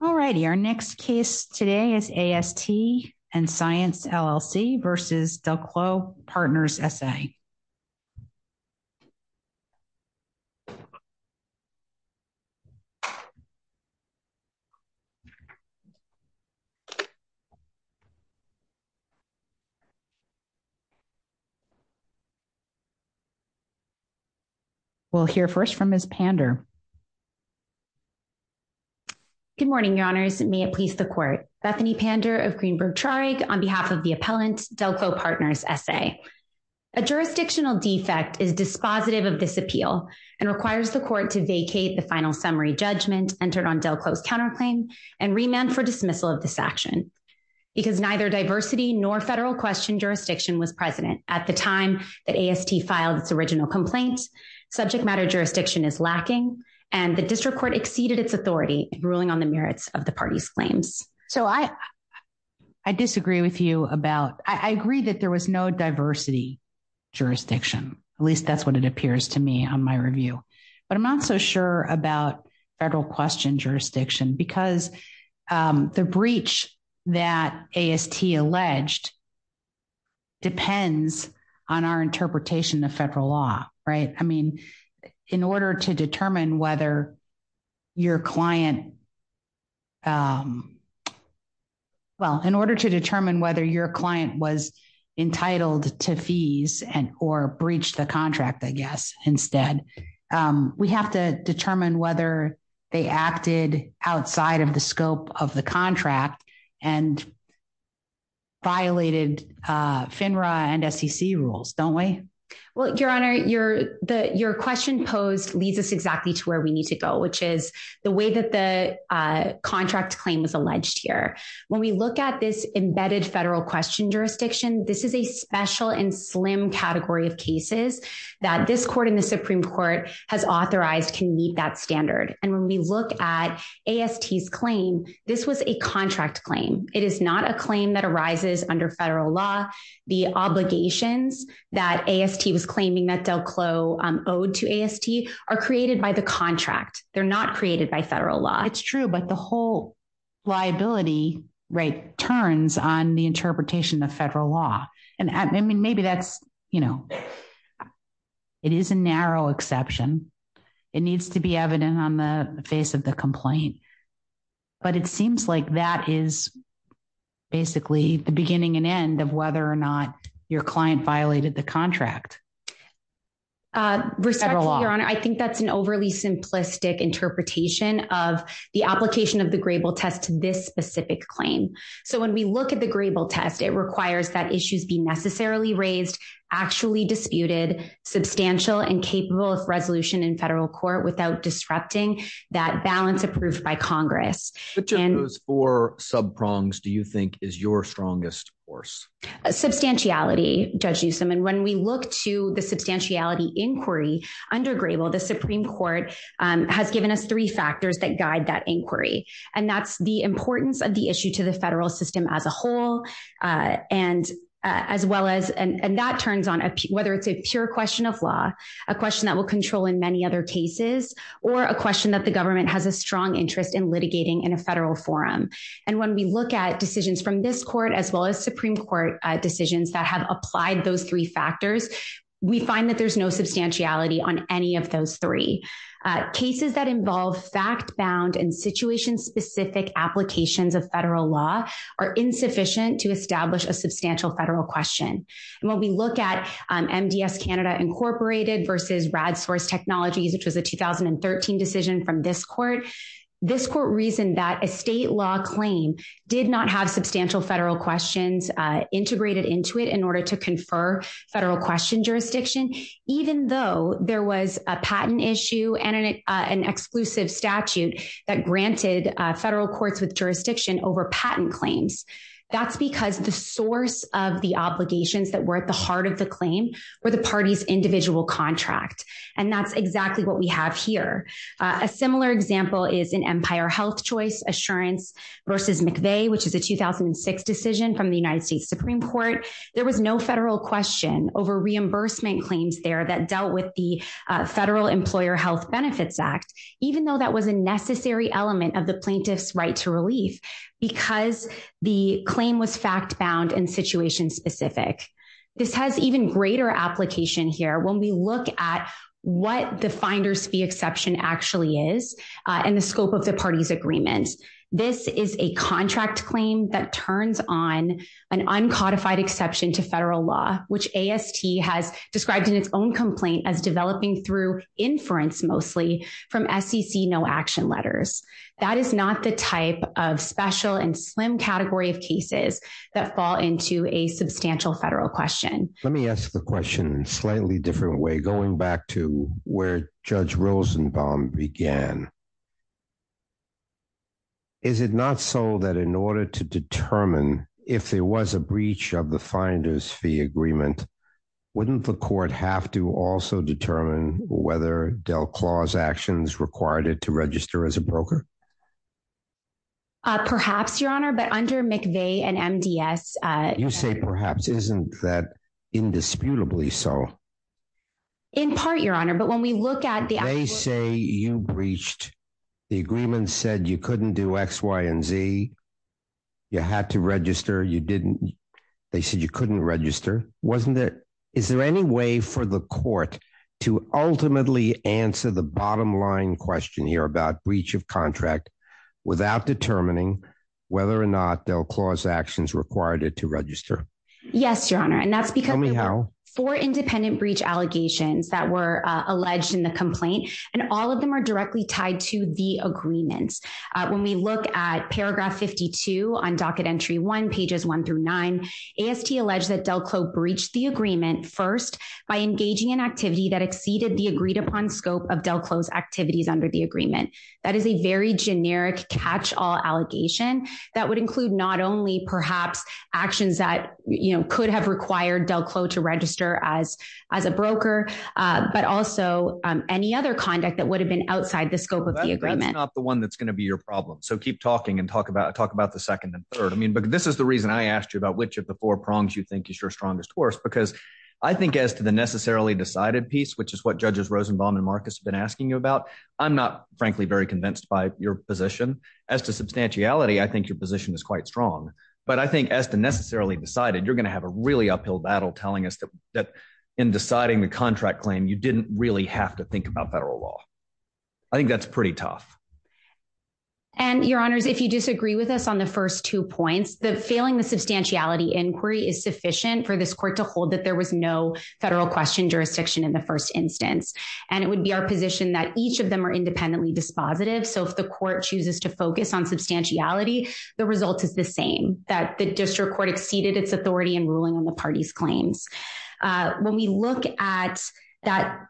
All righty, our next case today is AST & Science LLC v. Delclaux Partners SA. We'll hear first from Ms. Pander. Good morning, Your Honors. May it please the Court. Bethany Pander of Greenberg-Trarig on behalf of the appellant, Delclaux Partners SA. A jurisdictional defect is dispositive of this appeal and requires the Court to vacate the final summary judgment entered on Delclaux's counterclaim and remand for dismissal of this action. Because neither diversity nor federal question jurisdiction was present at the time that AST filed its original complaint, subject matter jurisdiction is lacking, and the District Court exceeded its authority in ruling on the merits of the parties' claims. So I disagree with you about, I agree that there was no diversity jurisdiction. At least that's what it appears to me on my review. But I'm not so sure about federal question jurisdiction because the breach that AST alleged depends on our interpretation of federal law, right? I mean, in order to determine whether your client, well, in order to determine whether your client was entitled to fees or breached the contract, I guess, instead, we have to determine whether they acted outside of the scope of the contract and violated FINRA and SEC rules, don't we? Well, Your Honor, your question posed leads us exactly to where we need to go, which is the way that the contract claim was alleged here. When we look at this embedded federal question jurisdiction, this is a special and slim category of cases that this Court in the Supreme Court has authorized can meet that standard. And when we look at AST's claim, this was a contract claim. It is not a claim that arises under federal law. The obligations that AST was claiming that Del Clo owed to AST are created by the contract. They're not created by federal law. It's true, but the whole liability, right, turns on the interpretation of federal law. And I mean, maybe that's, you know, it is a narrow exception. It needs to be evident on the face of the complaint. But it seems like that is basically the beginning and end of whether or not your client violated the contract. Respectfully, Your Honor, I think that's an overly simplistic interpretation of the application of the Grable test to this specific claim. So when we look at the Grable test, it requires that issues be necessarily raised, actually disputed, substantial and capable of resolution in federal court without disrupting that balance approved by Congress. Which of those four sub-prongs do you think is your strongest force? Substantiality, Judge Newsom. And when we look to the substantiality inquiry under Grable, the Supreme Court has given us three factors that guide that inquiry. And that's the importance of the issue to the federal system as a whole, and as well as, and that turns on whether it's a pure question of law, a question that will control in many other cases, or a question that the government has a strong interest in litigating in a federal forum. And when we look at decisions from this court, as well as Supreme Court decisions that have applied those three factors, we find that there's no substantiality on any of those three. Cases that involve fact-bound and situation-specific applications of federal law are insufficient to establish a substantial federal question. And when we look at MDS Canada Incorporated versus RadSource Technologies, which was a 2013 decision from this court, this court reasoned that a state law claim did not have substantial federal questions integrated into it in order to confer federal question jurisdiction, even though there was a patent issue and an exclusive statute that granted federal courts with jurisdiction over patent claims. That's because the source of the obligations that were at the heart of the claim were the party's individual contract, and that's exactly what we have here. A similar example is in Empire Health Choice Assurance versus McVeigh, which is a 2006 decision from the United States Supreme Court. There was no federal question over reimbursement claims there that dealt with the Federal Employer Health Benefits Act, even though that was a necessary element of the plaintiff's right to relief because the claim was fact-bound and situation-specific. This has even greater application here when we look at what the Finder's Fee Exception actually is and the scope of the party's agreement. This is a contract claim that turns on an uncodified exception to federal law, which AST has described in its own complaint as developing through inference mostly from SEC no-action letters. That is not the type of special and slim category of cases that fall into a substantial federal question. Let me ask the question in a slightly different way, going back to where Judge Rosenbaum began. Is it not so that in order to determine if there was a breach of the Finder's Fee Agreement, wouldn't the court have to also determine whether Delclaw's actions required it to register as a broker? Perhaps, Your Honor, but under McVeigh and MDS... You say perhaps. Isn't that indisputably so? In part, Your Honor, but when we look at the... When they say you breached, the agreement said you couldn't do X, Y, and Z. You had to register. They said you couldn't register. Is there any way for the court to ultimately answer the bottom-line question here about breach of contract without determining whether or not Delclaw's actions required it to register? Yes, Your Honor, and that's because there were four independent breach allegations that were alleged in the complaint, and all of them are directly tied to the agreements. When we look at paragraph 52 on docket entry one, pages one through nine, AST alleged that Delclaw breached the agreement first by engaging in activity that exceeded the agreed-upon scope of Delclaw's activities under the agreement. That is a very generic catch-all allegation that would include not only perhaps actions that could have required Delclaw to register as a broker, but also any other conduct that would have been outside the scope of the agreement. That's not the one that's going to be your problem, so keep talking and talk about the second and third. This is the reason I asked you about which of the four prongs you think is your strongest horse, because I think as to the necessarily decided piece, which is what judges Rosenbaum and Marcus have been asking you about, I'm not, frankly, very convinced by your position. As to substantiality, I think your position is quite strong, but I think as to necessarily decided, you're going to have a really uphill battle telling us that in deciding the contract claim, you didn't really have to think about federal law. I think that's pretty tough. And, Your Honors, if you disagree with us on the first two points, the failing the substantiality inquiry is sufficient for this court to hold that there was no federal question jurisdiction in the first instance, and it would be our position that each of them are independently dispositive, so if the court chooses to focus on substantiality, the result is the same, that the district court exceeded its authority in ruling on the party's claims. When we look at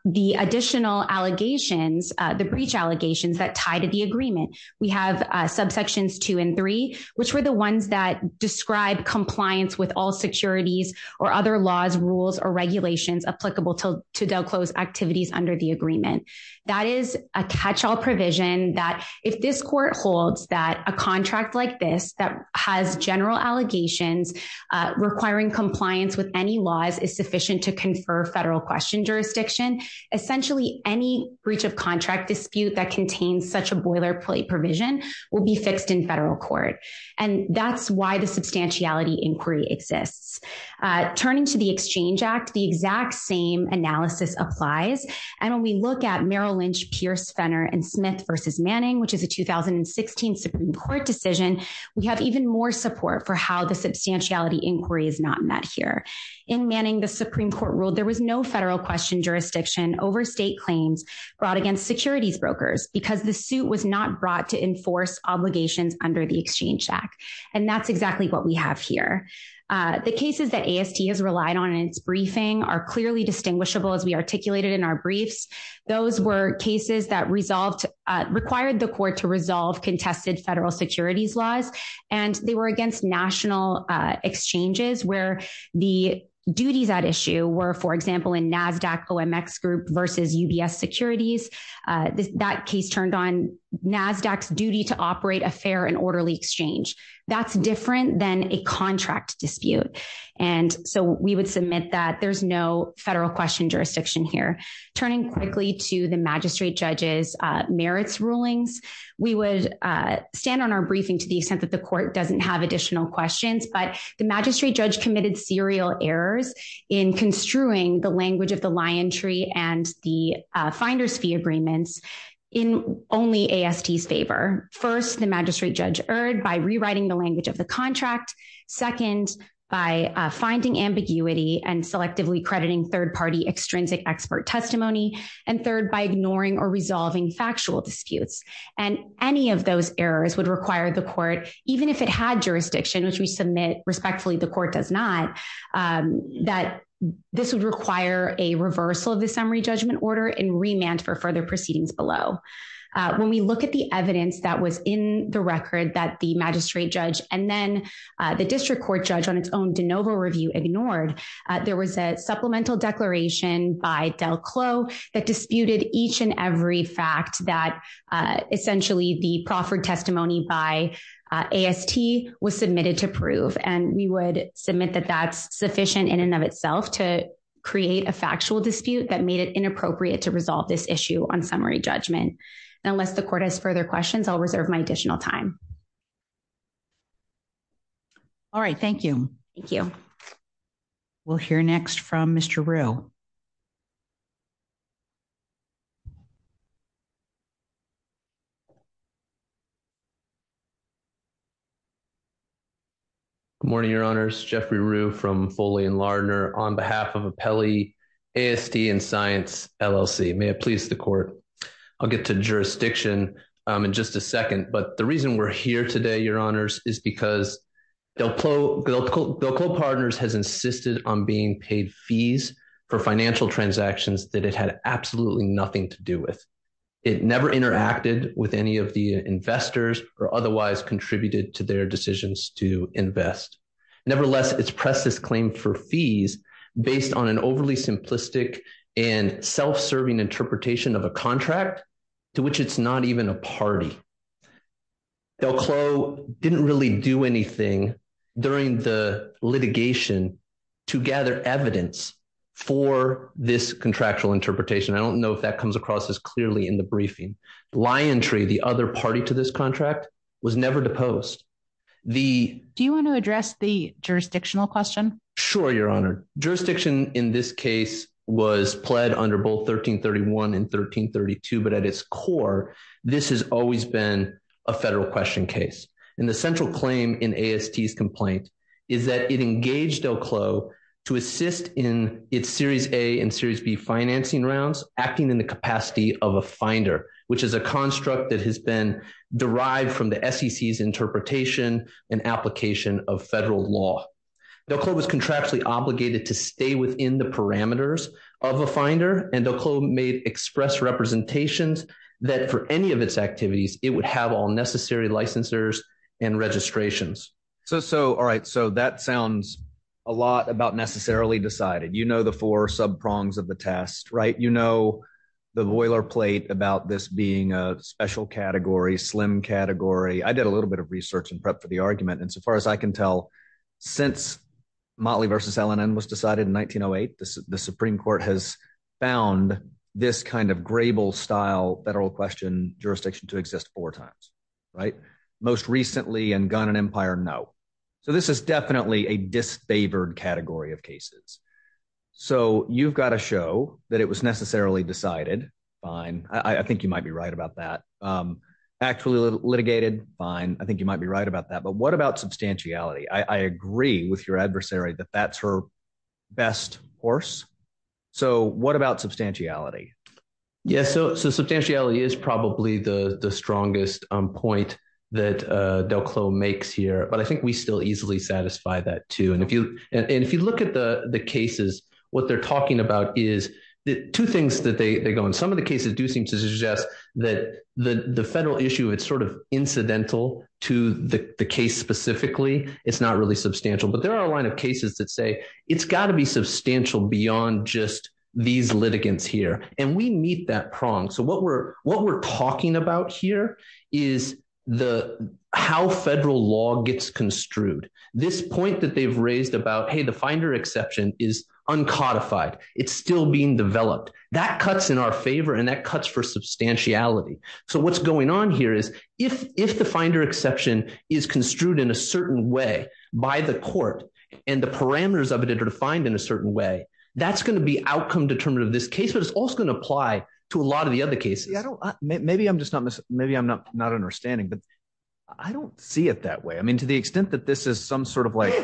the additional allegations, the breach allegations that tie to the agreement, we have subsections two and three, which were the ones that describe compliance with all securities or other laws, rules, or regulations applicable to Del Close activities under the That is a catch-all provision that if this court holds that a contract like this that has general allegations requiring compliance with any laws is sufficient to confer federal question jurisdiction, essentially any breach of contract dispute that contains such a boilerplate provision will be fixed in federal court. And that's why the substantiality inquiry exists. Turning to the Exchange Act, the exact same analysis applies, and when we look at Merrill Lynch, Pierce, Fenner, and Smith v. Manning, which is a 2016 Supreme Court decision, we have even more support for how the substantiality inquiry is not met here. In Manning, the Supreme Court ruled there was no federal question jurisdiction over state claims brought against securities brokers because the suit was not brought to enforce obligations under the Exchange Act, and that's exactly what we have here. The cases that AST has relied on in its briefing are clearly distinguishable as we articulated in our briefs. Those were cases that required the court to resolve contested federal securities laws, and they were against national exchanges where the duties at issue were, for example, in NASDAQ OMX Group v. UBS Securities. That case turned on NASDAQ's duty to operate a fair and orderly exchange. That's different than a contract dispute, and so we would submit that there's no federal question jurisdiction here. Turning quickly to the magistrate judge's merits rulings, we would stand on our briefing to the extent that the court doesn't have additional questions, but the magistrate judge committed serial errors in construing the language of the lion tree and the finder's fee agreements in only AST's favor. First, the magistrate judge erred by rewriting the language of the contract. Second, by finding ambiguity and selectively crediting third-party extrinsic expert testimony. And third, by ignoring or resolving factual disputes. And any of those errors would require the court, even if it had jurisdiction, which we submit respectfully the court does not, that this would require a reversal of the summary judgment order and remand for further proceedings below. When we look at the evidence that was in the record that the magistrate judge and then the district court judge on its own de novo review ignored, there was a supplemental declaration by Del Clos that disputed each and every fact that essentially the proffered testimony by AST was submitted to prove, and we would submit that that's sufficient in and of itself to create a factual dispute that made it inappropriate to resolve this issue on summary judgment. And unless the court has further questions, I'll reserve my additional time. All right. Thank you. We'll hear next from Mr. Rue. Good morning, Your Honors. Jeffrey Rue from Foley and Lardner on behalf of Appellee AST and Science LLC. May it please the court. I'll get to jurisdiction in just a second. But the reason we're here today, Your Honors, is because Del Clos Partners has insisted on being paid fees for financial transactions that it had absolutely nothing to do with. It never interacted with any of the investors or otherwise contributed to their decisions to invest. Nevertheless, it's pressed this claim for fees based on an overly simplistic and self-serving interpretation of a contract to which it's not even a party. Del Clos didn't really do anything during the litigation to gather evidence for this contractual interpretation. I don't know if that comes across as clearly in the briefing. Liontree, the other party to this contract, was never deposed. Do you want to address the jurisdictional question? Sure, Your Honor. Jurisdiction in this case was pled under both 1331 and 1332. But at its core, this has always been a federal question case. And the central claim in AST's complaint is that it engaged Del Clos to assist in its Series A and Series B financing rounds, acting in the capacity of a finder, which is a construct that has been derived from the SEC's interpretation and application of federal law. Del Clos was contractually obligated to stay within the parameters of a finder, and Del Clos made express representations that for any of its activities, it would have all necessary licensors and registrations. All right. So that sounds a lot about necessarily decided. You know the four subprongs of the test, right? You know the boilerplate about this being a special category, slim category. I did a little bit of research and prep for the argument. And so far as I can tell, since Motley v. LNN was decided in 1908, the Supreme Court has found this kind of Grable-style federal question jurisdiction to exist four times, right? Most recently in Gunn and Empire, no. So this is definitely a disfavored category of cases. So you've got to show that it was necessarily decided, fine. I think you might be right about that. Actually litigated, fine. I think you might be right about that. But what about substantiality? I agree with your adversary that that's her best horse. So what about substantiality? Yeah. So substantiality is probably the strongest point that Del Clos makes here. But I think we still easily satisfy that too. And if you look at the cases, what they're talking about is two things that they go on. Some of the cases do seem to suggest that the federal issue, it's sort of incidental to the case specifically. It's not really substantial. But there are a line of cases that say, it's got to be substantial beyond just these litigants here. And we meet that prong. So what we're talking about here is how federal law gets construed. This point that they've raised about, hey, the finder exception is uncodified. It's still being developed. That cuts in our favor. And that cuts for substantiality. So what's going on here is, if the finder exception is construed in a certain way by the court and the parameters of it are defined in a certain way, that's going to be outcome determinative of this case. But it's also going to apply to a lot of the other cases. Maybe I'm just not understanding. But I don't see it that way. I mean, to the extent that this is some sort of like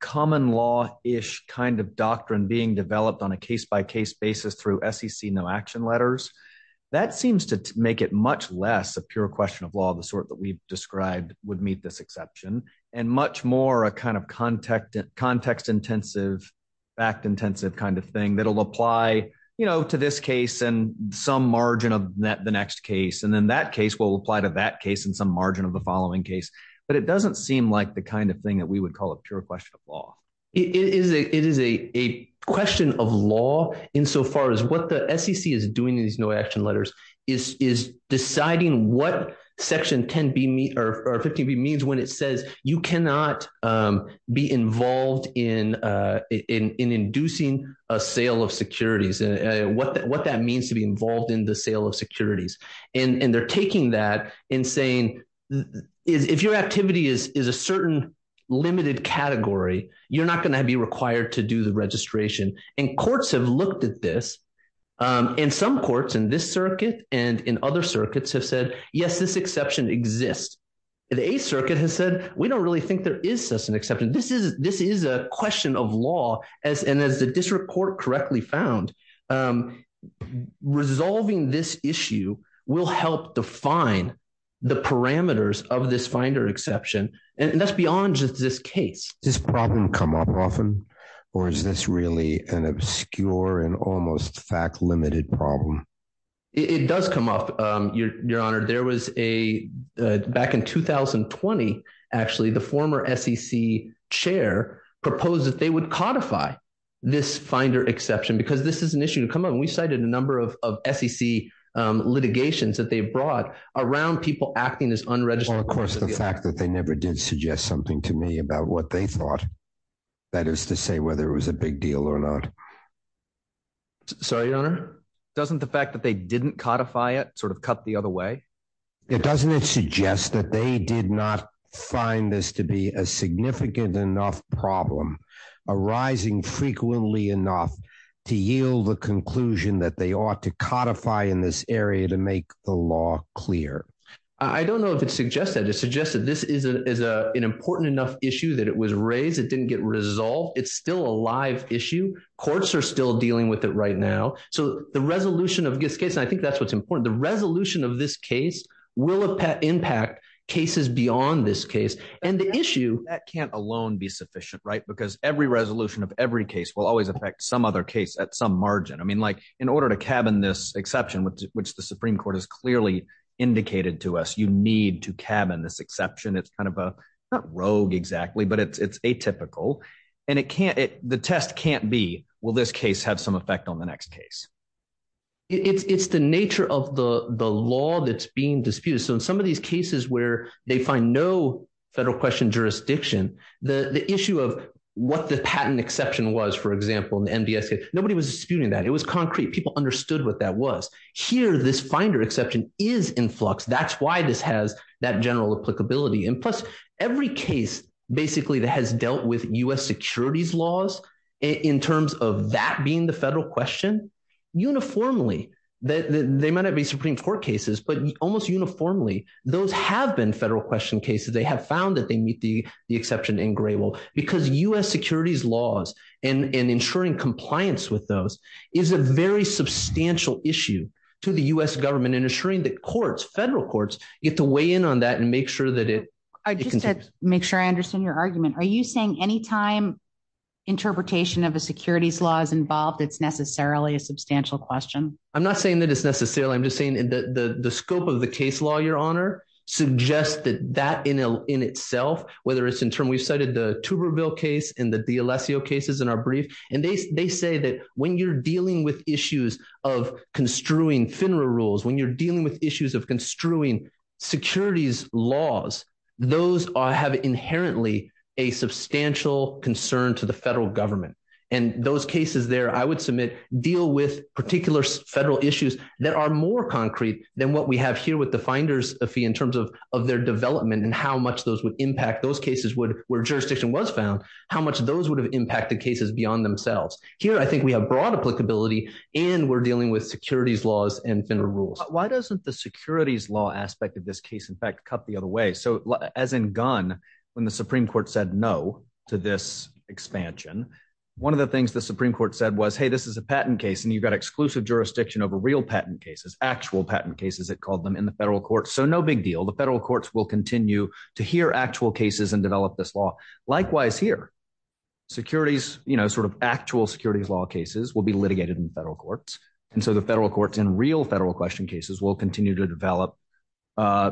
common law-ish kind of doctrine being developed on a case-by-case basis through SEC no action letters, that seems to make it much less a pure question of law, the sort that we've described would meet this exception, and much more a kind of context-intensive, fact-intensive kind of thing that'll apply to this case and some margin of the next case. And then that case will apply to that case and some margin of the following case. But it doesn't seem like the kind of thing that we would call a pure question of law. It is a question of law insofar as what the SEC is doing in these no action letters is deciding what Section 10b or 15b means when it says you cannot be involved in inducing a sale of securities and what that means to be involved in the sale of securities. And they're taking that and saying, if your activity is a certain limited category, you're not going to be required to do the registration. And courts have looked at this. And some courts in this circuit and in other circuits have said, yes, this exception exists. The Eighth Circuit has said, we don't really think there is such an exception. This is a question of law. And as the district court correctly found, resolving this issue will help define the parameters of this finder exception. And that's beyond just this case. Does this problem come up often, or is this really an obscure and almost fact limited problem? It does come up, Your Honor. There was a back in 2020, actually, the former SEC chair proposed that they would codify this finder exception because this is an issue to come up. And we cited a number of SEC litigations that they brought around people acting as unregistered. Of course, the fact that they never did suggest something to me about what they thought, that is to say whether it was a big deal or not. Sorry, Your Honor. Doesn't the fact that they didn't codify it sort of cut the other way? It doesn't suggest that they did not find this to be a significant enough problem arising frequently enough to yield the conclusion that they ought to codify in this area to make the law clear. I don't know if it suggests that. It suggests that this is an important enough issue that it was raised. It didn't get resolved. It's still a live issue. Courts are still dealing with it right now. So the resolution of this case, I think that's what's important. The resolution of this case will impact cases beyond this case. And the issue. That can't alone be sufficient, right? Because every resolution of every case will always affect some other case at some margin. In order to cabin this exception, which the Supreme Court has clearly indicated to us, you need to cabin this exception. It's kind of a not rogue exactly, but it's atypical. And the test can't be, will this case have some effect on the next case? It's the nature of the law that's being disputed. So in some of these cases where they find no federal question jurisdiction, the issue of what the patent exception was, for example, in the MBS case, nobody was disputing that. It was concrete. People understood what that was. Here, this finder exception is in flux. That's why this has that general applicability. And plus, every case basically that has dealt with U.S. securities laws in terms of that being the federal question, uniformly, they might not be Supreme Court cases, but almost uniformly, those have been federal question cases. They have found that they meet the exception in gray. Because U.S. securities laws and ensuring compliance with those is a very substantial issue to the U.S. government and ensuring that courts, federal courts, get to weigh in on that and make sure that it. I just said, make sure I understand your argument. Are you saying any time interpretation of a securities law is involved, it's necessarily a substantial question? I'm not saying that it's necessarily, I'm just saying that the scope of the case law, Your Honor, suggests that that in itself, whether it's in term, we've cited the Tuberville case and the D'Alessio cases in our brief. And they say that when you're dealing with issues of construing FINRA rules, when you're dealing with issues of construing securities laws, those have inherently a substantial concern to the federal government. And those cases there, I would submit, deal with particular federal issues that are more concrete than what we have here with the finder's fee in terms of their development and how much those would impact those cases where jurisdiction was found, how much those would have impacted cases beyond themselves. Here, I think we have broad applicability and we're dealing with securities laws and FINRA rules. Why doesn't the securities law aspect of this case, in fact, cut the other way? So as in Gunn, when the Supreme Court said no to this expansion, one of the things the Supreme Court said was, hey, this is a patent case and you've got exclusive jurisdiction over real patent cases, actual patent cases, it called them in the federal court. So no big deal. The federal courts will continue to hear actual cases and develop this law. Likewise here, securities, sort of actual securities law cases will be litigated in the federal courts. And so the federal courts in real federal question cases will continue to develop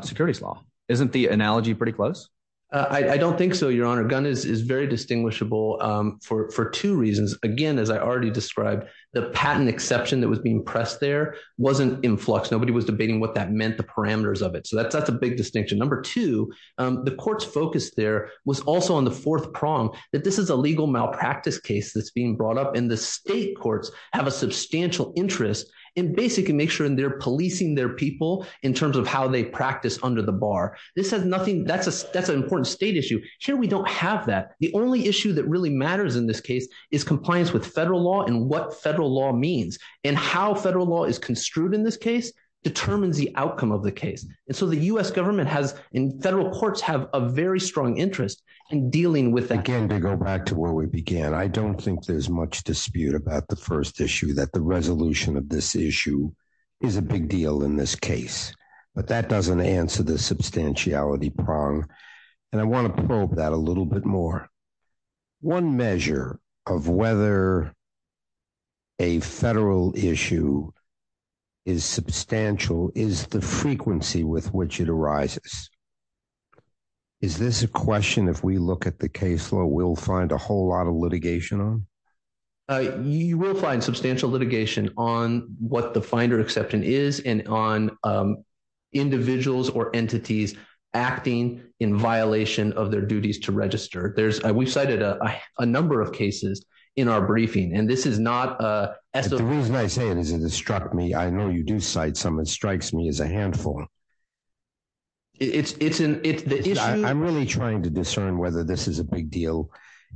securities law. Isn't the analogy pretty close? I don't think so, Your Honor. Gunn is very distinguishable for two reasons. Again, as I already described, the patent exception that was being pressed there wasn't in flux. Nobody was debating what that meant, the parameters of it. So that's a big distinction. Number two, the court's focus there was also on the fourth prong, that this is a legal malpractice case that's being brought up and the state courts have a substantial interest in basically making sure they're policing their people in terms of how they practice under the bar. This has nothing, that's an important state issue. Here we don't have that. The only issue that really matters in this case is compliance with federal law and what federal law means and how federal law is construed in this case determines the outcome of the case. And so the US government has in federal courts have a very strong interest in dealing with that. Again, to go back to where we began, I don't think there's much dispute about the first issue that the resolution of this issue is a big deal in this case, but that doesn't answer the substantiality prong. And I want to probe that a little bit more. One measure of whether a federal issue is substantial is the frequency with which it arises. Is this a question, if we look at the case law, we'll find a whole lot of litigation on? You will find substantial litigation on what the finder exception is and on individuals or entities acting in violation of their duties to register. There's a, we've cited a number of cases in our briefing, and this is not a, as the reason I say it is, it struck me. I know you do cite someone strikes me as a handful. It's, it's an, it's the issue. I'm really trying to discern whether this is a big deal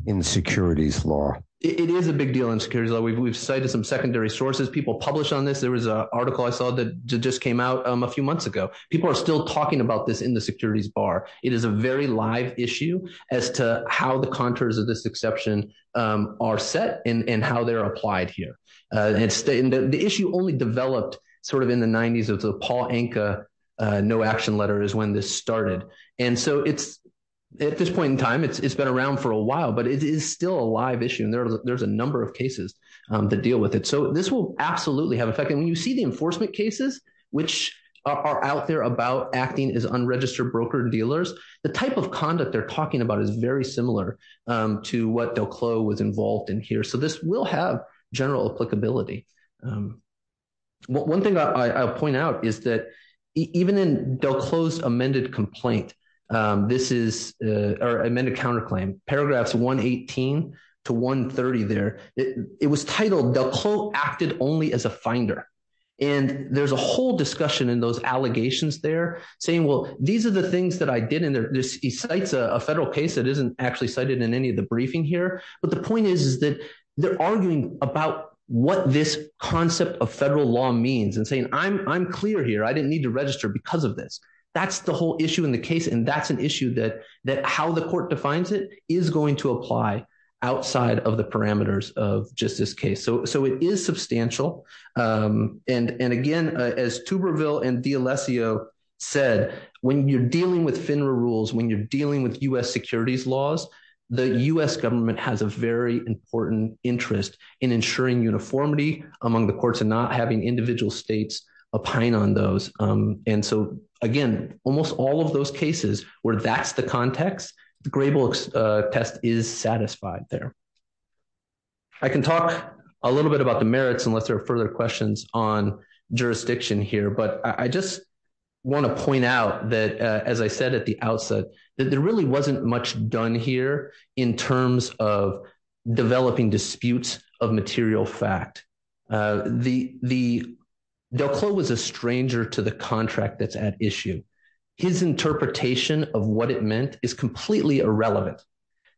in the securities law. It is a big deal in securities law. We've, we've cited some secondary sources, people publish on this. There was a article I saw that just came out a few months ago. People are still talking about this in the securities bar. It is a very live issue as to how the contours of this exception are set and how they're applied here. The issue only developed sort of in the 90s of the Paul Anka no action letter is when this started. And so it's at this point in time, it's been around for a while, but it is still a live issue. And there's a number of cases that deal with it. So this will absolutely have effect. When you see the enforcement cases, which are out there about acting as unregistered broker dealers, the type of conduct they're talking about is very similar to what they'll clo was involved in here. So this will have general applicability. One thing I'll point out is that even in they'll close amended complaint, this is amended counterclaim paragraphs, one 18 to one 30. It was titled, they'll call acted only as a finder. And there's a whole discussion in those allegations. They're saying, well, these are the things that I did. And there's a federal case that isn't actually cited in any of the briefing here. But the point is, is that they're arguing about what this concept of federal law means and saying, I'm clear here. I didn't need to register because of this. That's the whole issue in the case. And that's an issue that that how the court defines it is going to apply outside of the parameters of just this case. So so it is substantial. And and again, as to reveal and the Alessio said, when you're dealing with FINRA rules, when you're dealing with U.S. Securities laws, the U.S. Government has a very important interest in ensuring uniformity among the courts and not having individual states opine on those. And so, again, almost all of those cases where that's the context, the gray books test is satisfied there. I can talk a little bit about the merits unless there are further questions on jurisdiction here. But I just want to point out that, as I said at the outset, that there really wasn't much done here in terms of developing disputes of material fact. The the DelCle was a stranger to the contract that's at issue. His interpretation of what it meant is completely irrelevant.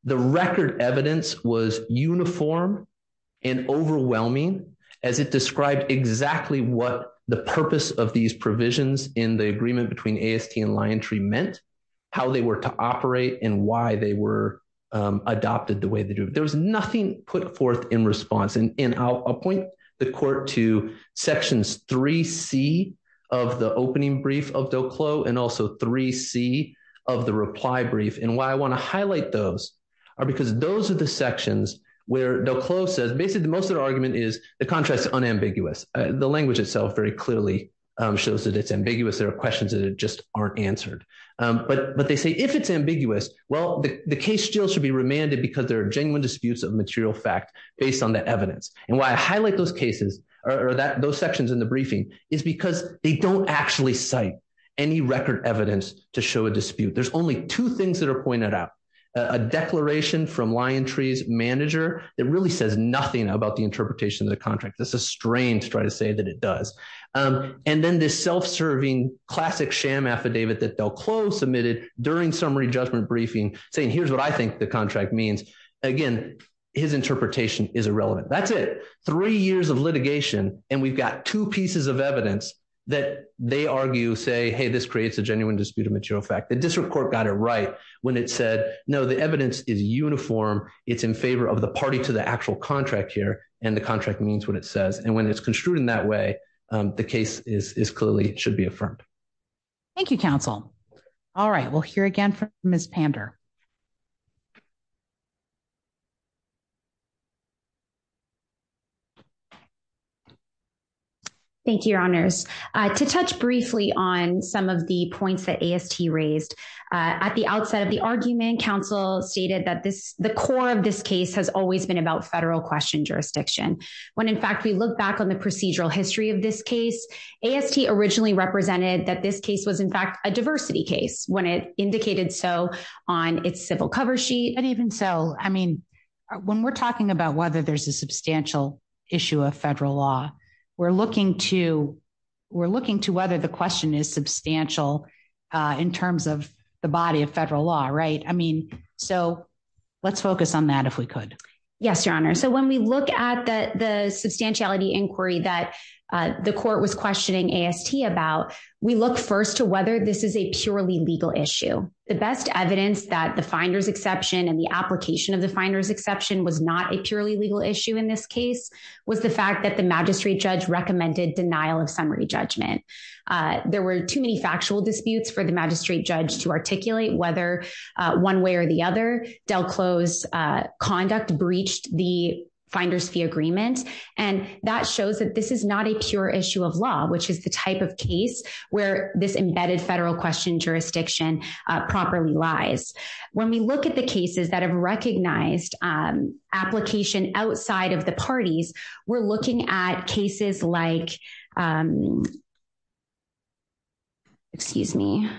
The record evidence was uniform and overwhelming as it described exactly what the purpose of these provisions in the agreement between AST and Liontree meant, how they were to operate and why they were adopted the way they do. There was nothing put forth in response. And I'll point the court to sections 3C of the opening brief of DelCle and also 3C of the reply brief. And why I want to highlight those are because those are the sections where DelCle says basically the most of the argument is the contrast is unambiguous. The language itself very clearly shows that it's ambiguous. There are questions that just aren't answered. But they say if it's ambiguous, well, the case still should be remanded because there are genuine disputes of material fact based on that evidence. And why I highlight those cases or those sections in the briefing is because they don't actually cite any record evidence to show a dispute. There's only two things that are pointed out, a declaration from Liontree's manager that really says nothing about the interpretation of the contract. That's a strain to try to say that it does. And then this self-serving classic sham affidavit that DelCle submitted during summary judgment briefing saying, here's what I think the contract means. Again, his interpretation is irrelevant. That's it. Three years of litigation and we've got two pieces of evidence that they argue, say, hey, this creates a genuine dispute of material fact. District Court got it right when it said, no, the evidence is uniform. It's in favor of the party to the actual contract here. And the contract means what it says. And when it's construed in that way, the case is clearly should be affirmed. Thank you, counsel. All right. We'll hear again from Ms. Pander. Thank you, your honors. To touch briefly on some of the points that AST raised. At the outset of the argument, counsel stated that the core of this case has always been about federal question jurisdiction. When, in fact, we look back on the procedural history of this case, AST originally represented that this case was, in fact, a diversity case when it indicated so on its civil cover sheet. And even so, I mean, when we're talking about whether there's a substantial issue of federal law, we're looking to whether the question is substantial in terms of the body of federal law, right? I mean, so let's focus on that if we could. Yes, your honor. So when we look at the substantiality inquiry that the court was questioning AST about, we look first to whether this is a purely legal issue. The best evidence that the finder's exception and the application of the finder's exception was not a purely legal issue in this case was the fact that the magistrate judge recommended denial of summary judgment. There were too many factual disputes for the magistrate judge to articulate whether one way or the other Del Close conduct breached the finder's fee agreement. And that shows that this is not a pure issue of law, which is the type of case where this embedded federal question jurisdiction properly lies. When we look at the cases that have recognized application outside of the parties, we're looking at cases like, excuse me,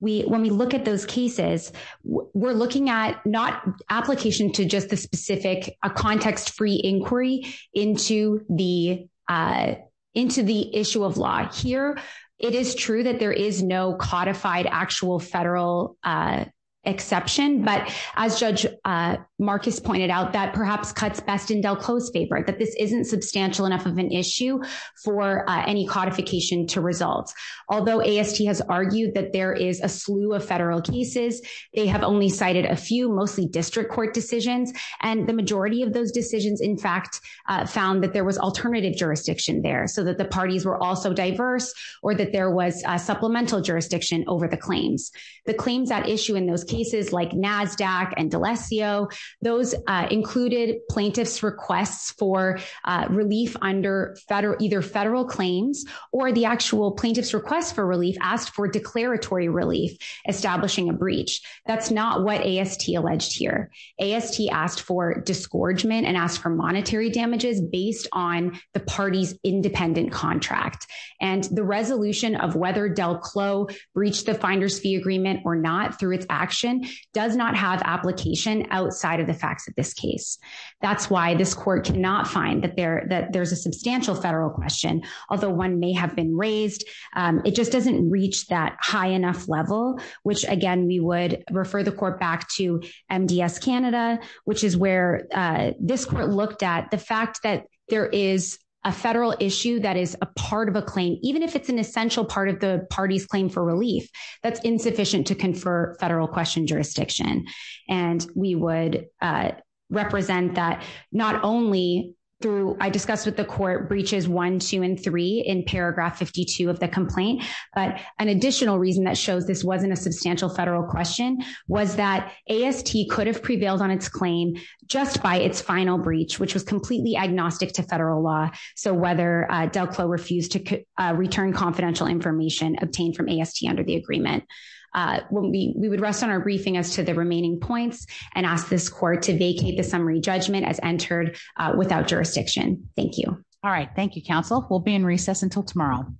when we look at those cases, we're looking at not application to just the specific, a context free inquiry into the issue of law. Here, it is true that there is no codified actual federal exception. But as Judge Marcus pointed out, that perhaps cuts best in Del Close paper, that this isn't substantial enough of an issue for any codification to result. Although AST has argued that there is a slew of federal cases, they have only cited a few, mostly district court decisions. And the majority of those decisions, in fact, found that there was alternative jurisdiction there so that the parties were also diverse or that there was a supplemental jurisdiction over the claims. The claims that issue in those cases like NASDAQ and D'Alessio, those included plaintiff's requests for relief under either federal claims or the actual plaintiff's request for relief asked for declaratory relief, establishing a breach. That's not what AST alleged here. AST asked for disgorgement and asked for monetary damages based on the party's independent contract. And the resolution of whether Del Close breached the finder's fee agreement or not through its action does not have application outside of the facts of this case. That's why this court cannot find that there's a substantial federal question. Although one may have been raised, it just doesn't reach that high enough level, which again, we would refer the court back to MDS Canada, which is where this court looked at the fact that there is a federal issue that is a part of a claim, even if it's an essential part of the party's claim for relief, that's insufficient to confer federal question jurisdiction. And we would represent that not only through, I discussed with the court breaches one, two and three in paragraph 52 of the complaint, but an additional reason that shows this wasn't a substantial federal question was that AST could have prevailed on its claim just by its final breach, which was completely agnostic to federal law. So whether Del Close refused to return confidential information obtained from AST under the agreement. We would rest on our briefing as to the remaining points and ask this court to vacate the summary judgment as entered without jurisdiction. Thank you. All right. Thank you, counsel. We'll be in recess until tomorrow.